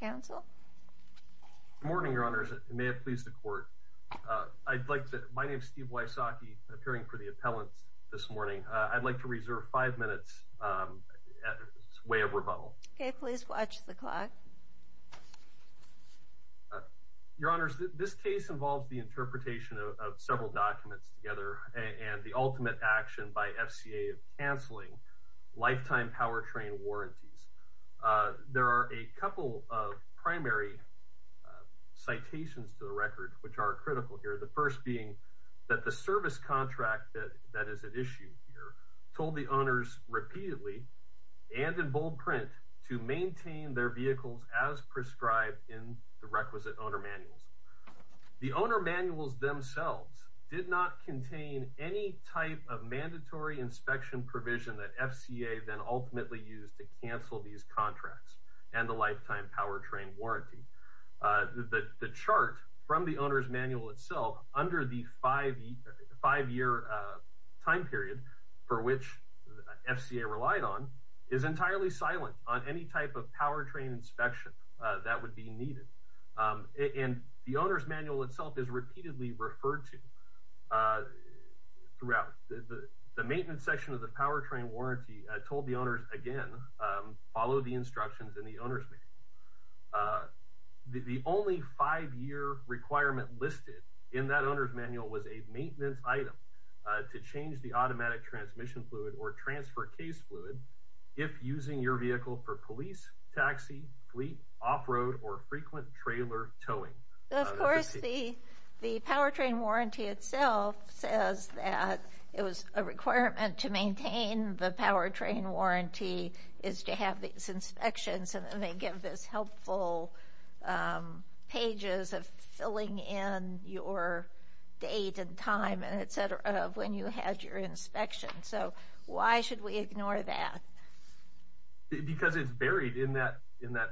Good morning, Your Honors. May it please the Court. My name is Steve Wysocki, appearing for the appellant this morning. I'd like to reserve five minutes as a way of rebuttal. Please watch the clock. Your Honors, this case involves the interpretation of several documents together and the ultimate action by FCA of cancelling lifetime powertrain warranty. There are a couple of primary citations to the record which are critical here. The first being that the service contract that is at issue here told the owners repeatedly and in bold print to maintain their vehicles as prescribed in the requisite owner manual. The owner manuals themselves did not contain any type of mandatory inspection provision that FCA then ultimately used to cancel these contracts and the lifetime powertrain warranty. The chart from the owner's manual itself under the five-year time period for which FCA relied on is entirely silent on any type of powertrain inspection that would be needed. The owner's manual told the owners again, follow the instructions in the owner's manual. The only five-year requirement listed in that owner's manual was a maintenance item to change the automatic transmission fluid or transfer case fluid if using your vehicle for police, taxi, fleet, off-road or frequent trailer towing. Of course, the powertrain warranty itself says that it was a requirement to maintain the powertrain warranty is to have these inspections and they give this helpful pages of filling in your date and time and etc. of when you had your inspection. So why should we ignore that? Because it's buried in that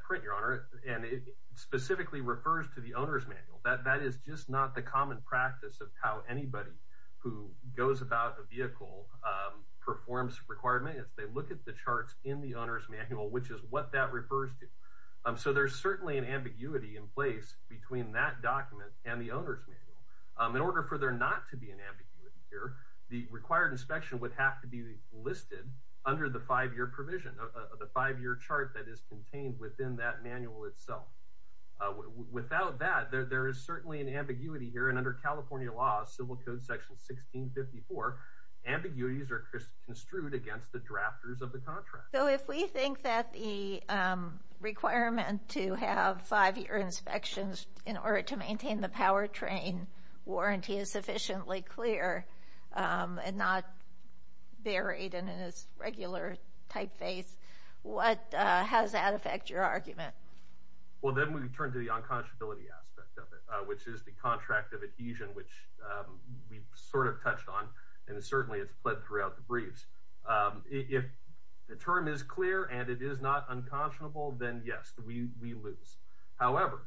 print, Your Honor, and it specifically refers to the owner's manual. That is just not the common practice of how anybody who goes about a vehicle performs requirements. They look at the charts in the owner's manual, which is what that refers to. So there's certainly an ambiguity in place between that document and the owner's manual. In order for there not to be an ambiguity here, the required inspection would have to be listed under the five-year provision of the five-year chart that is contained within that manual itself. Without that, there is certainly an ambiguity here and under California law, civil code section 1654, ambiguities are construed against the drafters of the contract. So if we think that the requirement to have five-year inspections in order to maintain the powertrain warranty is sufficiently clear and not buried in its regular typeface, what has that affect your argument? Well, then we turn to the unconscionability aspect of it, which is the contract of adhesion, which we sort of touched on, and certainly it's fled throughout the briefs. If the term is clear and it is not unconscionable, then yes, we lose. However,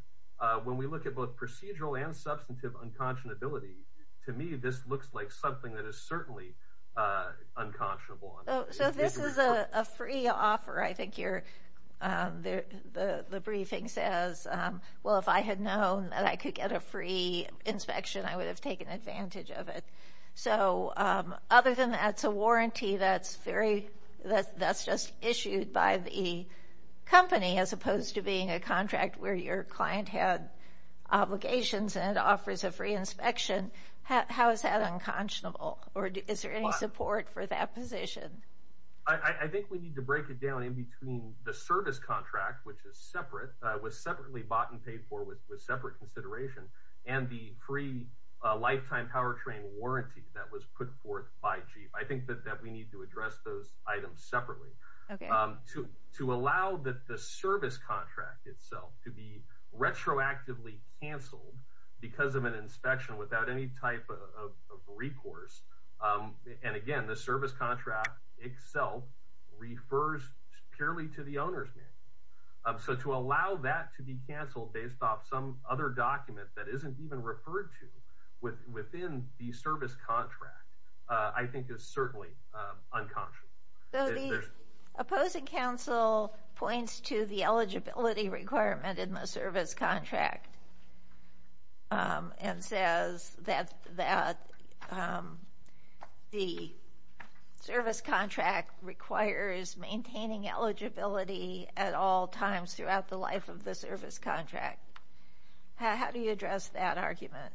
when we look at both procedural and substantive unconscionability, to me, this looks like something that is certainly unconscionable. So this is a free offer. I think the briefing says, well, if I had known that I could get a free inspection, I would have taken advantage of it. So other than that's a warranty that's just issued by the company as opposed to being a contract where your client had obligations and it offers a free inspection, how is that unconscionable? Or is there any support for that position? I think we need to break it down in between the service contract, which is separate, was separately bought and paid for with separate consideration and the free lifetime powertrain warranty that was put forth by Jeep. I think that we need to address those items separately to allow the service contract itself to be retroactively canceled because of an inspection without any type of recourse. And again, the service contract itself refers purely to the owner's name. So to allow that to be canceled based off some other document that isn't even referred to within the service contract, I think is certainly unconscionable. So the opposing counsel points to the eligibility requirement in the service contract and says that the service contract requires maintaining eligibility at all times throughout the life of the service contract. How do you address that argument?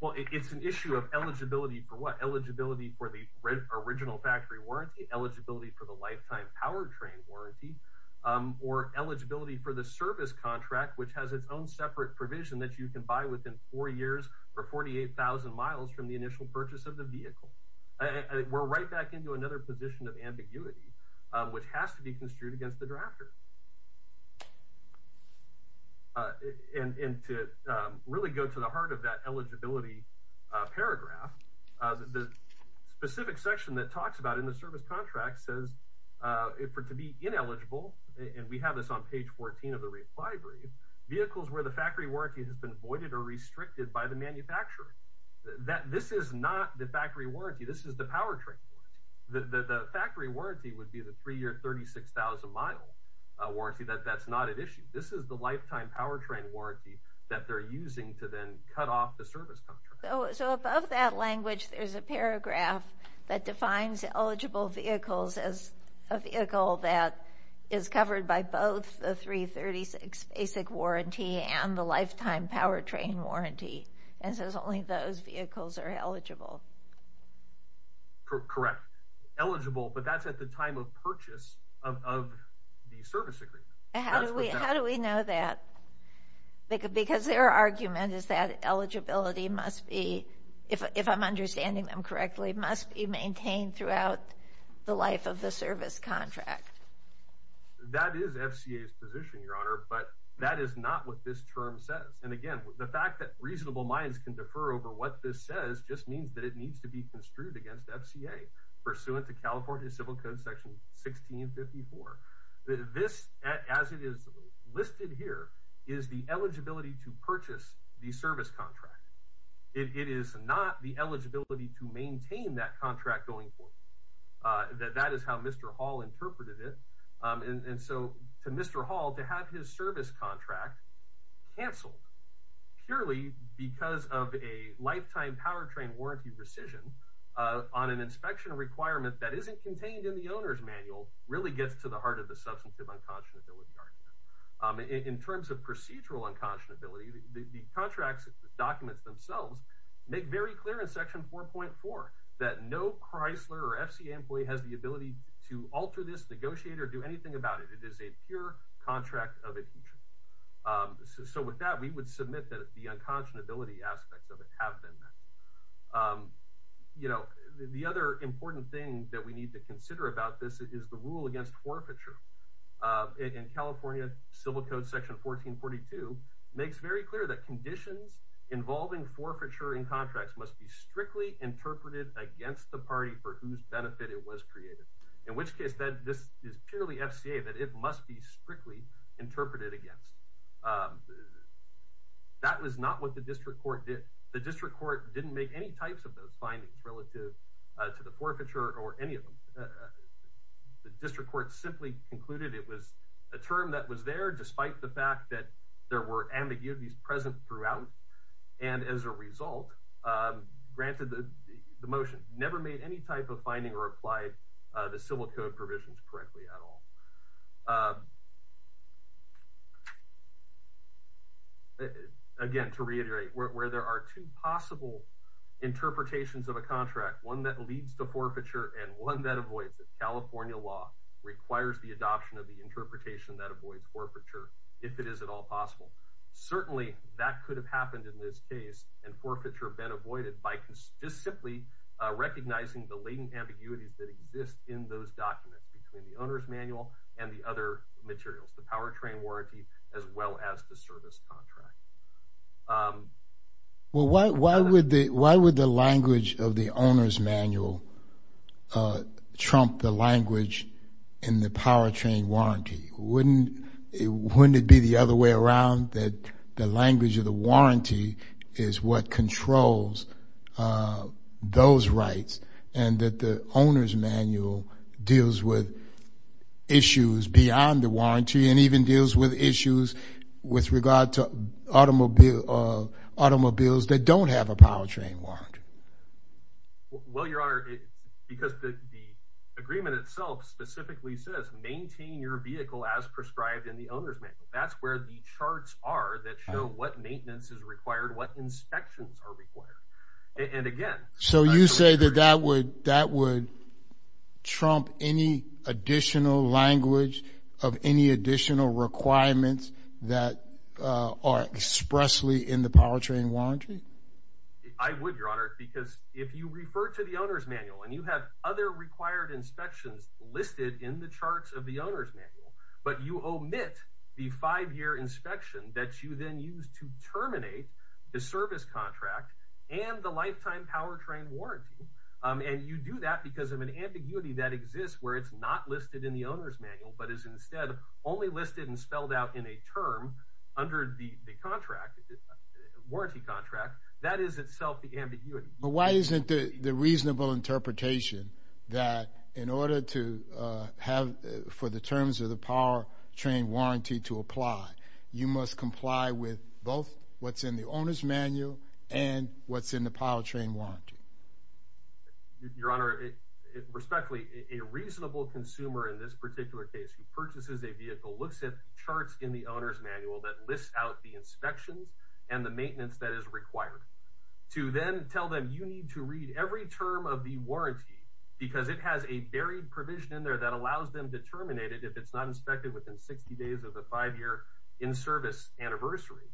Well, it's an issue of eligibility for what? Eligibility for the original factory warranty, eligibility for the lifetime powertrain warranty, or eligibility for the service contract, which has its own separate provision that you can buy within four years or 48,000 miles from the initial purchase of the vehicle. We're right back into another position of ambiguity, which has to be construed against the drafters. And to really go to the heart of that eligibility paragraph, the specific section that talks about in the service contract says for it to be ineligible, and we have this on page 14 of the reply brief, vehicles where the factory warranty has been voided or restricted by the manufacturer. This is not the factory warranty. This is the powertrain warranty. The factory warranty would be the three-year, 36,000-mile warranty. That's not at issue. This is the lifetime powertrain warranty that they're using to then cut off the service contract. So above that language, there's a paragraph that defines eligible vehicles as a vehicle that is covered by both the 336 basic warranty and the lifetime powertrain warranty, and says only those vehicles are eligible. Correct. Eligible, but that's at the time of purchase of the service agreement. How do we know that? Because their argument is that eligibility must be, if I'm understanding them correctly, must be maintained throughout the life of the service contract. That is FCA's position, Your Honor, but that is not what this term says. And again, the fact that reasonable minds can defer over what this says just means that it needs to be construed against FCA, pursuant to California Civil Code Section 1654. This, as it is listed here, is the eligibility to purchase the service contract. It is not the eligibility to maintain that contract going forward. That is how Mr. Hall interpreted it. And so to Mr. Hall, to have his service contract canceled purely because of a lifetime powertrain warranty decision on an inspection requirement that isn't contained in the owner's manual really gets to the heart of the substantive unconscionability argument. In terms of procedural unconscionability, the contract documents themselves make very clear in Section 4.4 that no Chrysler or FCA employee has the ability to alter this, negotiate, or do anything about it. It is a pure contract of a teacher. So with that, we would submit that the unconscionability aspect of it have been met. You know, the other important thing that we need to consider about this is the rule against forfeiture. In California Civil Code Section 1442, it makes very clear that conditions involving forfeiture in contracts must be strictly interpreted against the party for whose benefit it was created. In which case, this is purely FCA, that it must be strictly interpreted against. That was not what the district court did. The district court didn't make any types of those findings relative to the forfeiture or any of them. The district court simply concluded it was a term that was there despite the fact that there were ambiguities present throughout. And as a result, granted the motion, never made any type of finding or applied the Civil Code provisions correctly at all. Again, to reiterate, where there are two possible interpretations of a contract, one that leads to forfeiture and one that avoids it, California law requires the adoption of the interpretation that avoids forfeiture if it is at all possible. Certainly, that could have happened in this case and forfeiture been avoided by just simply recognizing the latent ambiguities that exist in those documents between the owner's manual and the other materials, the powertrain warranty as well as the service contract. Well, why would the language of the owner's manual trump the language in the powertrain warranty? Wouldn't it be the other way around that the language of the warranty is what controls those rights and that the owner's manual deals with issues beyond the of automobiles that don't have a powertrain warrant? Well, Your Honor, because the agreement itself specifically says maintain your vehicle as prescribed in the owner's manual. That's where the charts are that show what maintenance is required, what inspections are required. And again... So you say that that would trump any additional language of any additional requirements that are expressly in the powertrain warranty? I would, Your Honor, because if you refer to the owner's manual and you have other required inspections listed in the charts of the owner's manual, but you omit the five-year inspection that you then use to terminate the service contract and the lifetime powertrain warranty, and you do that because of an ambiguity that exists where it's not listed in the owner's manual. It is instead only listed and spelled out in a term under the warranty contract. That is itself the ambiguity. But why isn't the reasonable interpretation that in order to have for the terms of the powertrain warranty to apply, you must comply with both what's in the owner's manual and what's in the powertrain warranty? Your Honor, respectfully, a reasonable consumer in this particular case who purchases a vehicle looks at charts in the owner's manual that lists out the inspections and the maintenance that is required. To then tell them you need to read every term of the warranty because it has a varied provision in there that allows them to terminate it if it's not inspected within 60 days of the five-year in-service anniversary,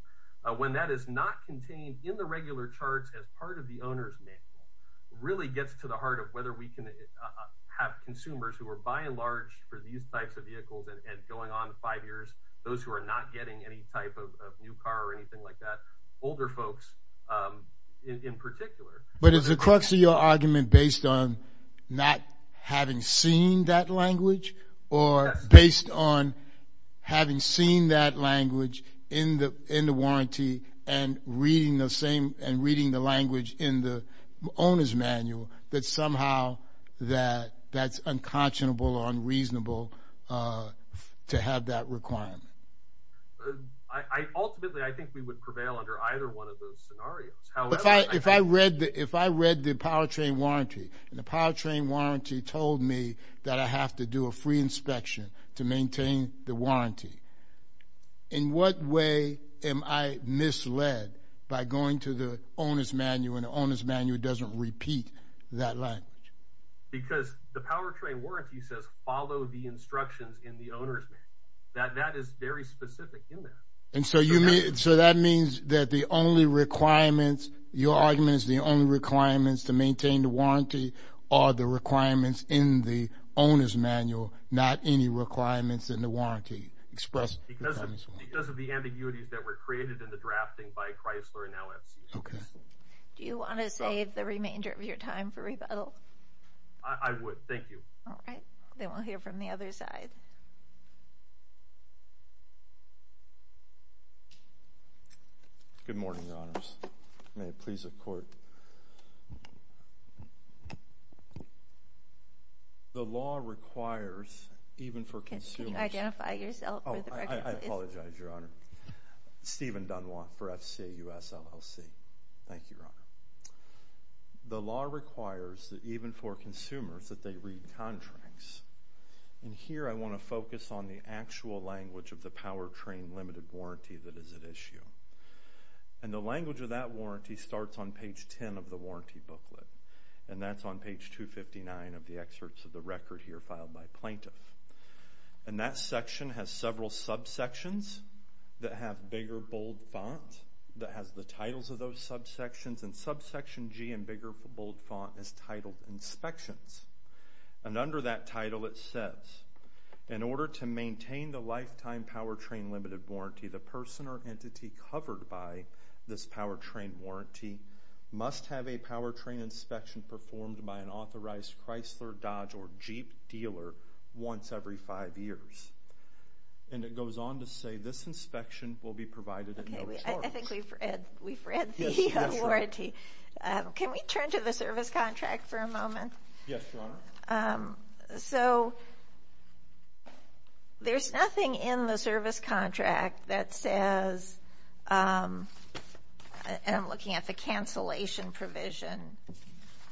when that is not contained in the regular charts as part of the owner's manual, really gets to the heart of whether we can have consumers who are, by and large, for these types of vehicles and going on five years, those who are not getting any type of new car or anything like that, older folks in particular. But is the crux of your argument based on not having seen that language or based on having seen that language in the warranty and reading the same and reading the language in the owner's manual that somehow that that's unconscionable or unreasonable to have that requirement? Ultimately, I think we would prevail under either one of those scenarios. If I read the powertrain warranty and the powertrain warranty told me that I have to do a free inspection to maintain the warranty, in what way am I misled by going to the owner's manual and the owner's manual doesn't repeat that language? Because the powertrain warranty says follow the instructions in the owner's manual. That is very specific in there. And so that means that the only requirements, your argument is the requirements to maintain the warranty are the requirements in the owner's manual, not any requirements in the warranty expressed. Because of the ambiguities that were created in the drafting by Chrysler and now FCS. Okay. Do you want to save the remainder of your time for rebuttal? I would. Thank you. All right. Then we'll hear from the other side. Good morning, Your Honors. May it please the Court. The law requires even for consumers... Can you identify yourself for the record, please? Oh, I apologize, Your Honor. Stephen Dunlop for FCA US LLC. Thank you, Your Honor. The law requires that even for consumers that they read contracts. And here I want to focus on the actual language of the powertrain limited warranty that is at issue. And the language of that warranty starts on page 10 of the warranty booklet. And that's on page 259 of the excerpts of the record here filed by plaintiff. And that section has several subsections that have bigger, subsections. And subsection G in bigger bold font is titled inspections. And under that title, it says, in order to maintain the lifetime powertrain limited warranty, the person or entity covered by this powertrain warranty must have a powertrain inspection performed by an authorized Chrysler, Dodge, or Jeep dealer once every five years. And it goes on to say this inspection will be provided... Okay, I think we've read the warranty. Can we turn to the service contract for a moment? Yes, Your Honor. So there's nothing in the service contract that says, and I'm looking at the cancellation provision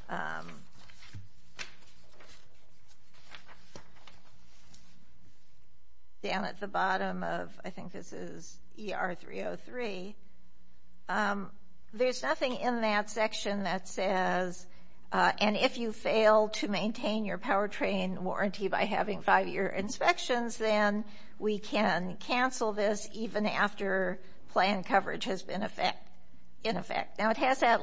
down at the bottom of, I think this is ER 303. There's nothing in that section that says, and if you fail to maintain your powertrain warranty by having five-year inspections, then we can cancel this even after planned coverage has been in effect. Now, it has that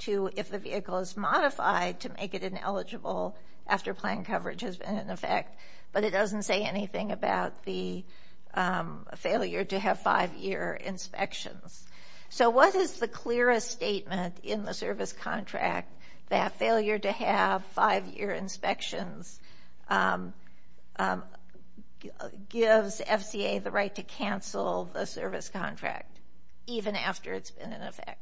to, if the vehicle is modified to make it ineligible after planned coverage has been in effect, but it doesn't say anything about the failure to have five-year inspections. So what is the clearest statement in the service contract that failure to have five-year inspections gives FCA the right to cancel the service contract even after it's been in effect?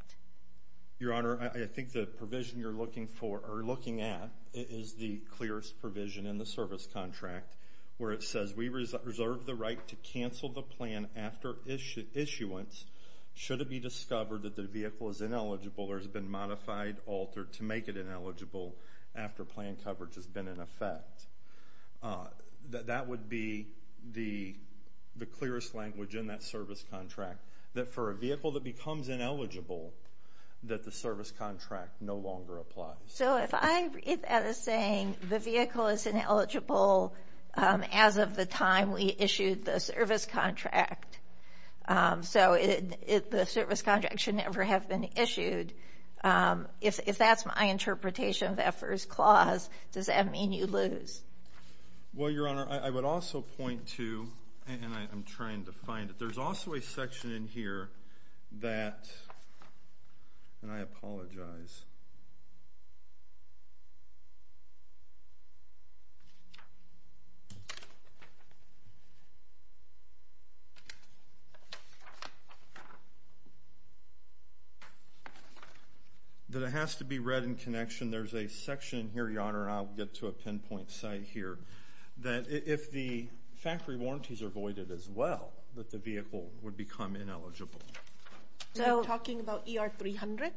Your Honor, I think the provision you're looking for or looking at is the clearest provision in the service contract where it says we reserve the right to cancel the plan after issuance should it be discovered that the vehicle is ineligible or has been modified, altered to make it ineligible after planned coverage has been in effect. That would be the clearest language in that service contract that for a vehicle that becomes ineligible that the service contract no longer applies. So if I read that as saying the vehicle is ineligible as of the time we issued the service contract, so the service contract should never have been issued, if that's my interpretation of that first clause, does that mean you lose? Well, Your Honor, I would also point to, and I'm trying to find it, there's also a section in here that, and I apologize, that it has to be read in connection. There's a section here, Your Honor, I'll get to a pinpoint site here, that if the factory warranties are voided as well that the vehicle would become ineligible. So we're talking about ER 300?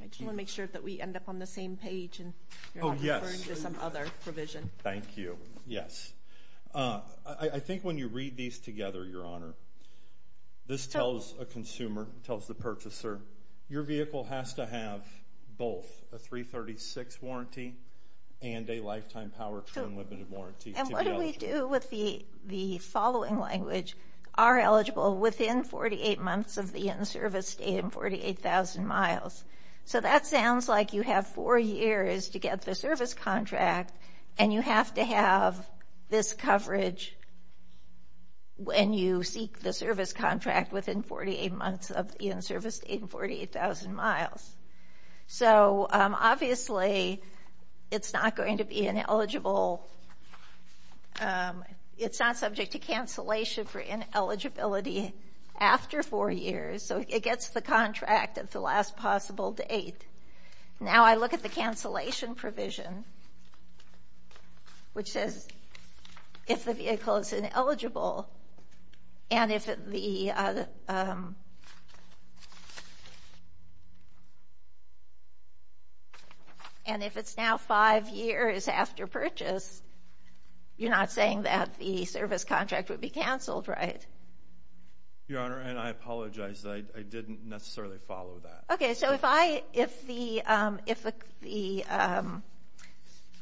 I just want to make sure that we end up on the same page and you're not referring to some other provision. Thank you, yes. I think when you read these together, Your Honor, this tells a consumer, tells the purchaser, your vehicle has to have both a 336 warranty and a lifetime power term limited warranty. And what do we do with the 48 months of the in-service stay and 48,000 miles? So that sounds like you have four years to get the service contract and you have to have this coverage when you seek the service contract within 48 months of the in-service stay and 48,000 miles. So obviously it's not going to be ineligible, it's not subject to cancellation for ineligibility after four years, so it gets the contract at the last possible date. Now I look at the cancellation provision, which says if the vehicle is ineligible and if it's now five years after purchase, you're not saying that the service contract would be canceled, right? Your Honor, and I apologize, I didn't necessarily follow that. Okay, so if the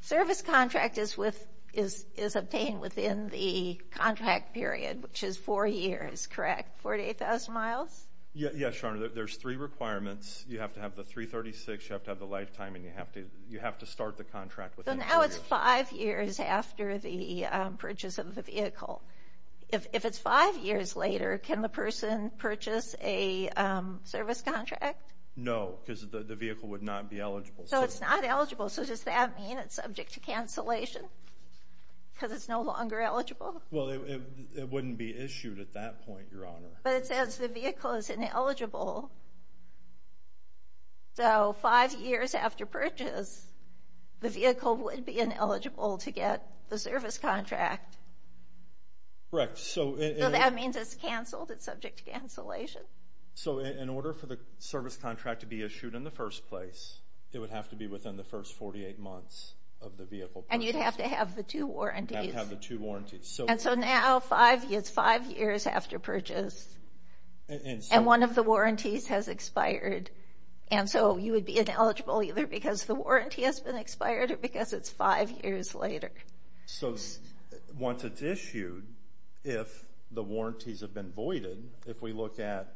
service contract is obtained within the contract period, which is four years, correct? 48,000 miles? Yes, Your Honor, there's three requirements. You have to have the 336, you have to have the lifetime, and you have to start the contract. So now it's five years after the purchase of the vehicle. If it's five years later, can the person purchase a service contract? No, because the vehicle would not be eligible. So it's not eligible, so does that mean it's subject to cancellation because it's no longer eligible? Well, it wouldn't be issued at that point, Your Honor. But it says the vehicle is ineligible, so five years after purchase, the vehicle would be ineligible to get the service contract. Correct. So that means it's subject to cancellation. So in order for the service contract to be issued in the first place, it would have to be within the first 48 months of the vehicle purchase. And you'd have to have the two warranties. You'd have to have the two warranties. And so now it's five years after purchase, and one of the warranties has expired, and so you would be ineligible either because the warranty has been expired or because it's five years later. So once it's issued, if the warranties have been voided, if we look at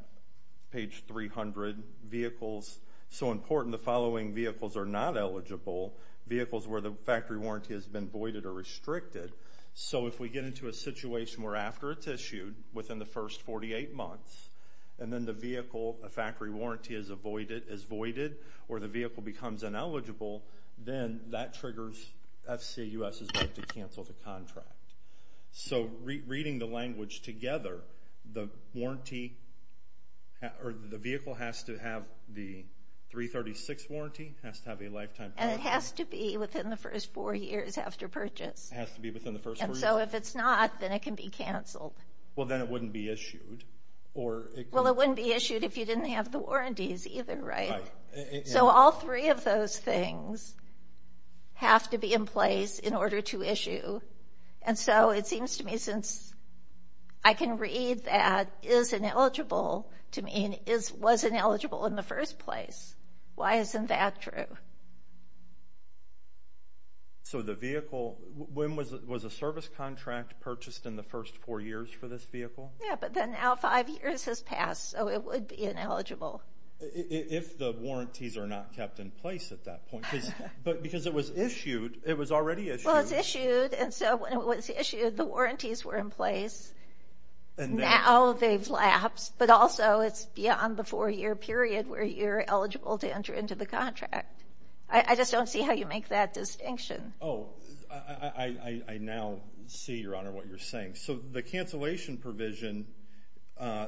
page 300, vehicles, so important, the following vehicles are not eligible. Vehicles where the factory warranty has been voided or restricted. So if we get into a situation where after it's issued, within the first 48 months, and then the vehicle, a factory warranty is avoided, is voided, or the vehicle becomes ineligible, then that triggers FCA U.S.'s vote to cancel the contract. So reading the language together, the warranty, or the vehicle has to have the 336 warranty, has to have a lifetime. And it has to be within the first four years after purchase. It has to be within the first four years. And so if it's not, then it can be canceled. Well, then it wouldn't be issued. Well, it wouldn't be issued if you didn't have the warranties either, right? So all three of those things have to be in place in order to issue. And so it seems to me, since I can read that is ineligible to me, and was ineligible in the first place, why isn't that true? So the vehicle, when was a service contract purchased in the first four years for this vehicle? Yeah, but then now five years has If the warranties are not kept in place at that point, because it was issued, it was already issued. Well, it's issued. And so when it was issued, the warranties were in place. Now they've lapsed. But also it's beyond the four-year period where you're eligible to enter into the contract. I just don't see how you make that distinction. Oh, I now see, Your Honor, what you're saying. So the cancellation provision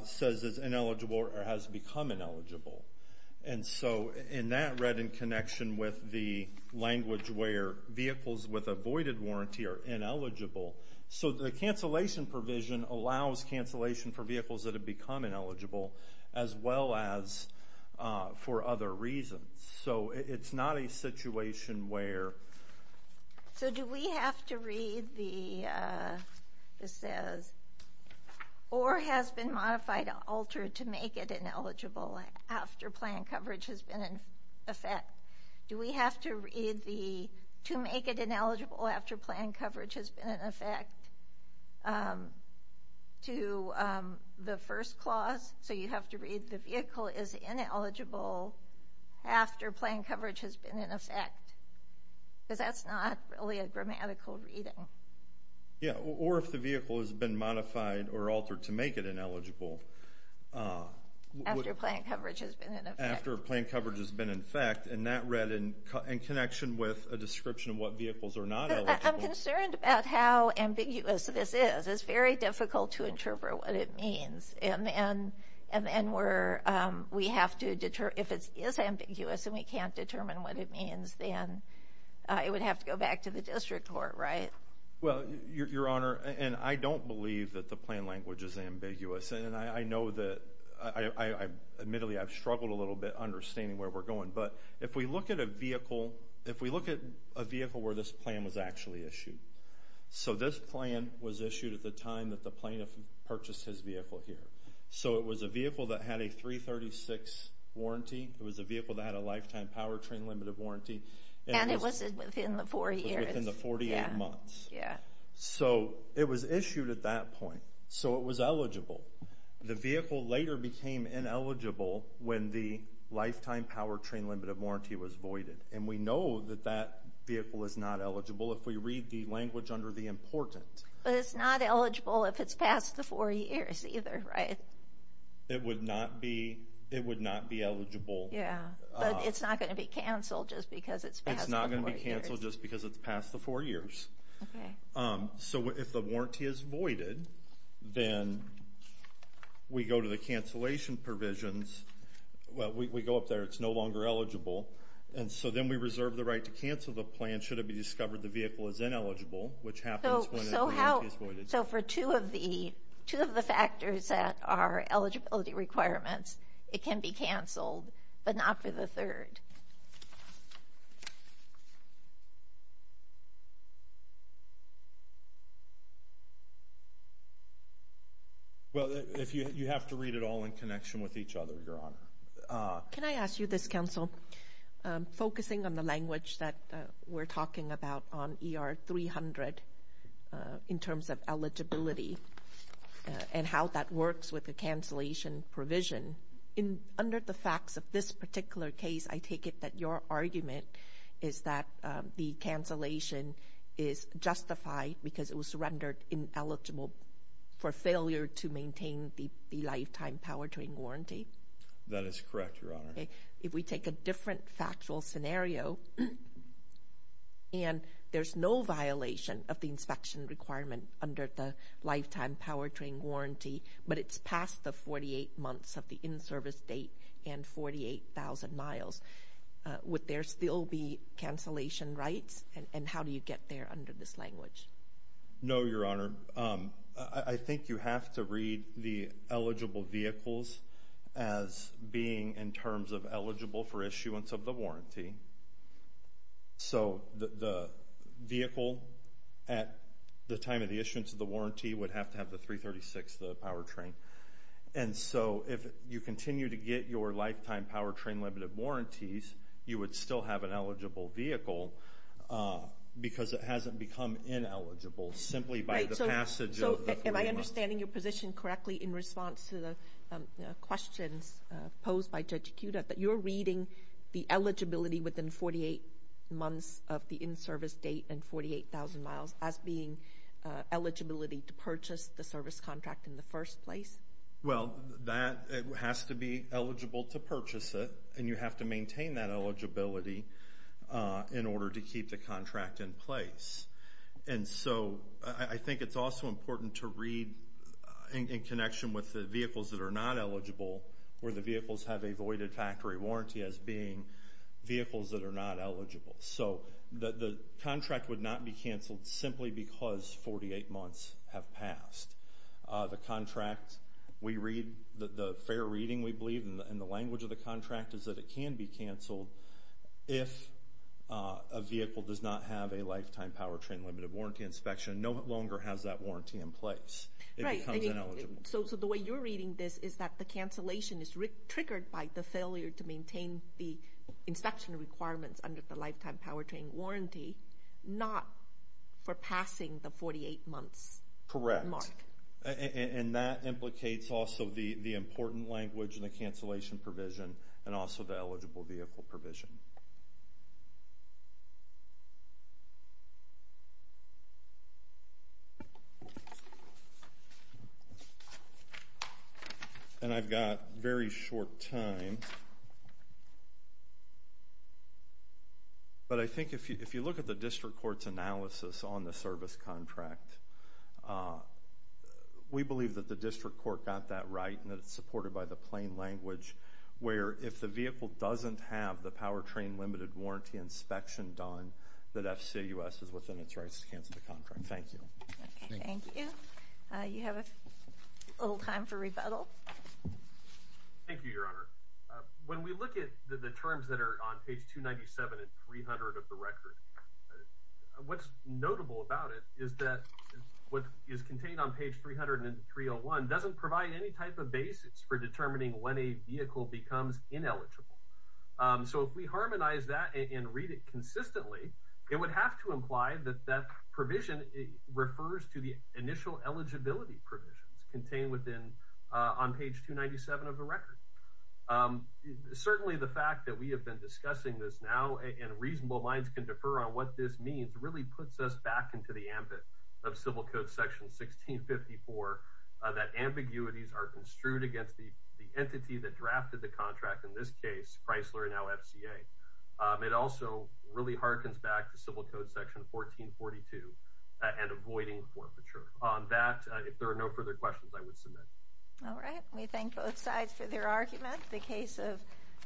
says it's ineligible or has become ineligible. And so in that, read in connection with the language where vehicles with a voided warranty are ineligible. So the cancellation provision allows cancellation for vehicles that have become ineligible as well as for other reasons. So it's not a situation where... So do we have to read the this says, or has been modified or altered to make it ineligible after plan coverage has been in effect? Do we have to read the to make it ineligible after plan coverage has been in effect to the first clause? So you have to read the vehicle is ineligible after plan coverage has been in effect. Because that's not really a grammatical reading. Yeah. Or if the vehicle has been modified or altered to make it ineligible. After plan coverage has been in effect. After plan coverage has been in effect. And that read in connection with a description of what vehicles are not eligible. I'm concerned about how ambiguous this is. It's very difficult to interpret what it means. And then we have to deter... If it is ambiguous and we can't determine what it means, then it would have to go back to district court, right? Well, your honor, and I don't believe that the plan language is ambiguous. And I know that I admittedly, I've struggled a little bit understanding where we're going. But if we look at a vehicle, if we look at a vehicle where this plan was actually issued. So this plan was issued at the time that the plaintiff purchased his vehicle here. So it was a vehicle that had a 336 warranty. It was a vehicle that had a lifetime powertrain limited warranty. And it was within the four years. Within the 48 months. Yeah. So it was issued at that point. So it was eligible. The vehicle later became ineligible when the lifetime powertrain limited warranty was voided. And we know that that vehicle is not eligible if we read the language under the importance. But it's not eligible if it's past the four years either, right? It would not be. Yeah, but it's not going to be canceled just because it's not going to be canceled just because it's past the four years. Okay. So if the warranty is voided, then we go to the cancellation provisions. Well, we go up there, it's no longer eligible. And so then we reserve the right to cancel the plan should it be discovered the vehicle is ineligible, which happens when it's voided. So for two of the two of the factors that are eligibility requirements, it can be canceled, but not for the third. Well, if you have to read it all in connection with each other, Your Honor. Can I ask you this, counsel? Focusing on the language that we're talking about on ER 300 in terms of eligibility and how that works with the cancellation provision. Under the facts of this particular case, I take it that your argument is that the cancellation is justified because it was rendered ineligible for failure to maintain the lifetime power train warranty? That is correct, Your Honor. Okay. If we take a different factual scenario and there's no violation of the inspection requirement under the lifetime power train warranty, but it's past the 48 months of the in-service date and 48,000 miles, would there still be cancellation rights? And how do you get there under this language? No, Your Honor. I think you have to read the eligible vehicles as being in terms of eligible for issuance of the warranty. So, the vehicle at the time of the issuance of the warranty would have to have the 336, the power train. And so, if you continue to get your lifetime power train limited warranties, you would still have an eligible vehicle because it hasn't become ineligible simply by the passage of the 48 months. So, am I understanding your position correctly in the eligibility within 48 months of the in-service date and 48,000 miles as being eligibility to purchase the service contract in the first place? Well, that has to be eligible to purchase it and you have to maintain that eligibility in order to keep the contract in place. And so, I think it's also important to read in connection with the vehicles that are not eligible where the vehicles have a voided factory warranty as being vehicles that are not eligible. So, the contract would not be canceled simply because 48 months have passed. The contract, we read, the fair reading we believe in the language of the contract is that it can be canceled if a vehicle does not have a lifetime power train limited warranty inspection, no longer has that triggered by the failure to maintain the inspection requirements under the lifetime power train warranty, not for passing the 48 months. Correct. And that implicates also the important language and the cancellation provision and also the eligible vehicle provision. And I've got very short time. But I think if you look at the district court's analysis on the service contract, we believe that the district court got that right and it's supported by the power train limited warranty inspection done that FCUS is within its rights to cancel the contract. Thank you. Thank you. You have a little time for rebuttal. Thank you, your honor. When we look at the terms that are on page 297 and 300 of the record, what's notable about it is that what is contained on page 300 and 301 doesn't provide any type of basis for determining when a vehicle becomes ineligible. So if we harmonize that and read it consistently, it would have to imply that that provision refers to the initial eligibility provision contained within on page 297 of the record. Certainly the fact that we have been discussing this now and reasonable minds can defer on what this means really puts us back into the ambit of civil code section 1654, that ambiguities are construed against the entity that drafted the contract in this case, Chrysler, now FCA. It also really harkens back to civil code section 1442 and avoiding forfeiture. On that, if there are no further questions, I would submit. All right. We thank both sides for their argument. The case of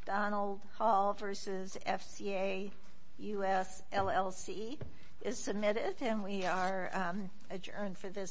Donald Hall versus FCA US LLC is submitted and we are adjourned for this session.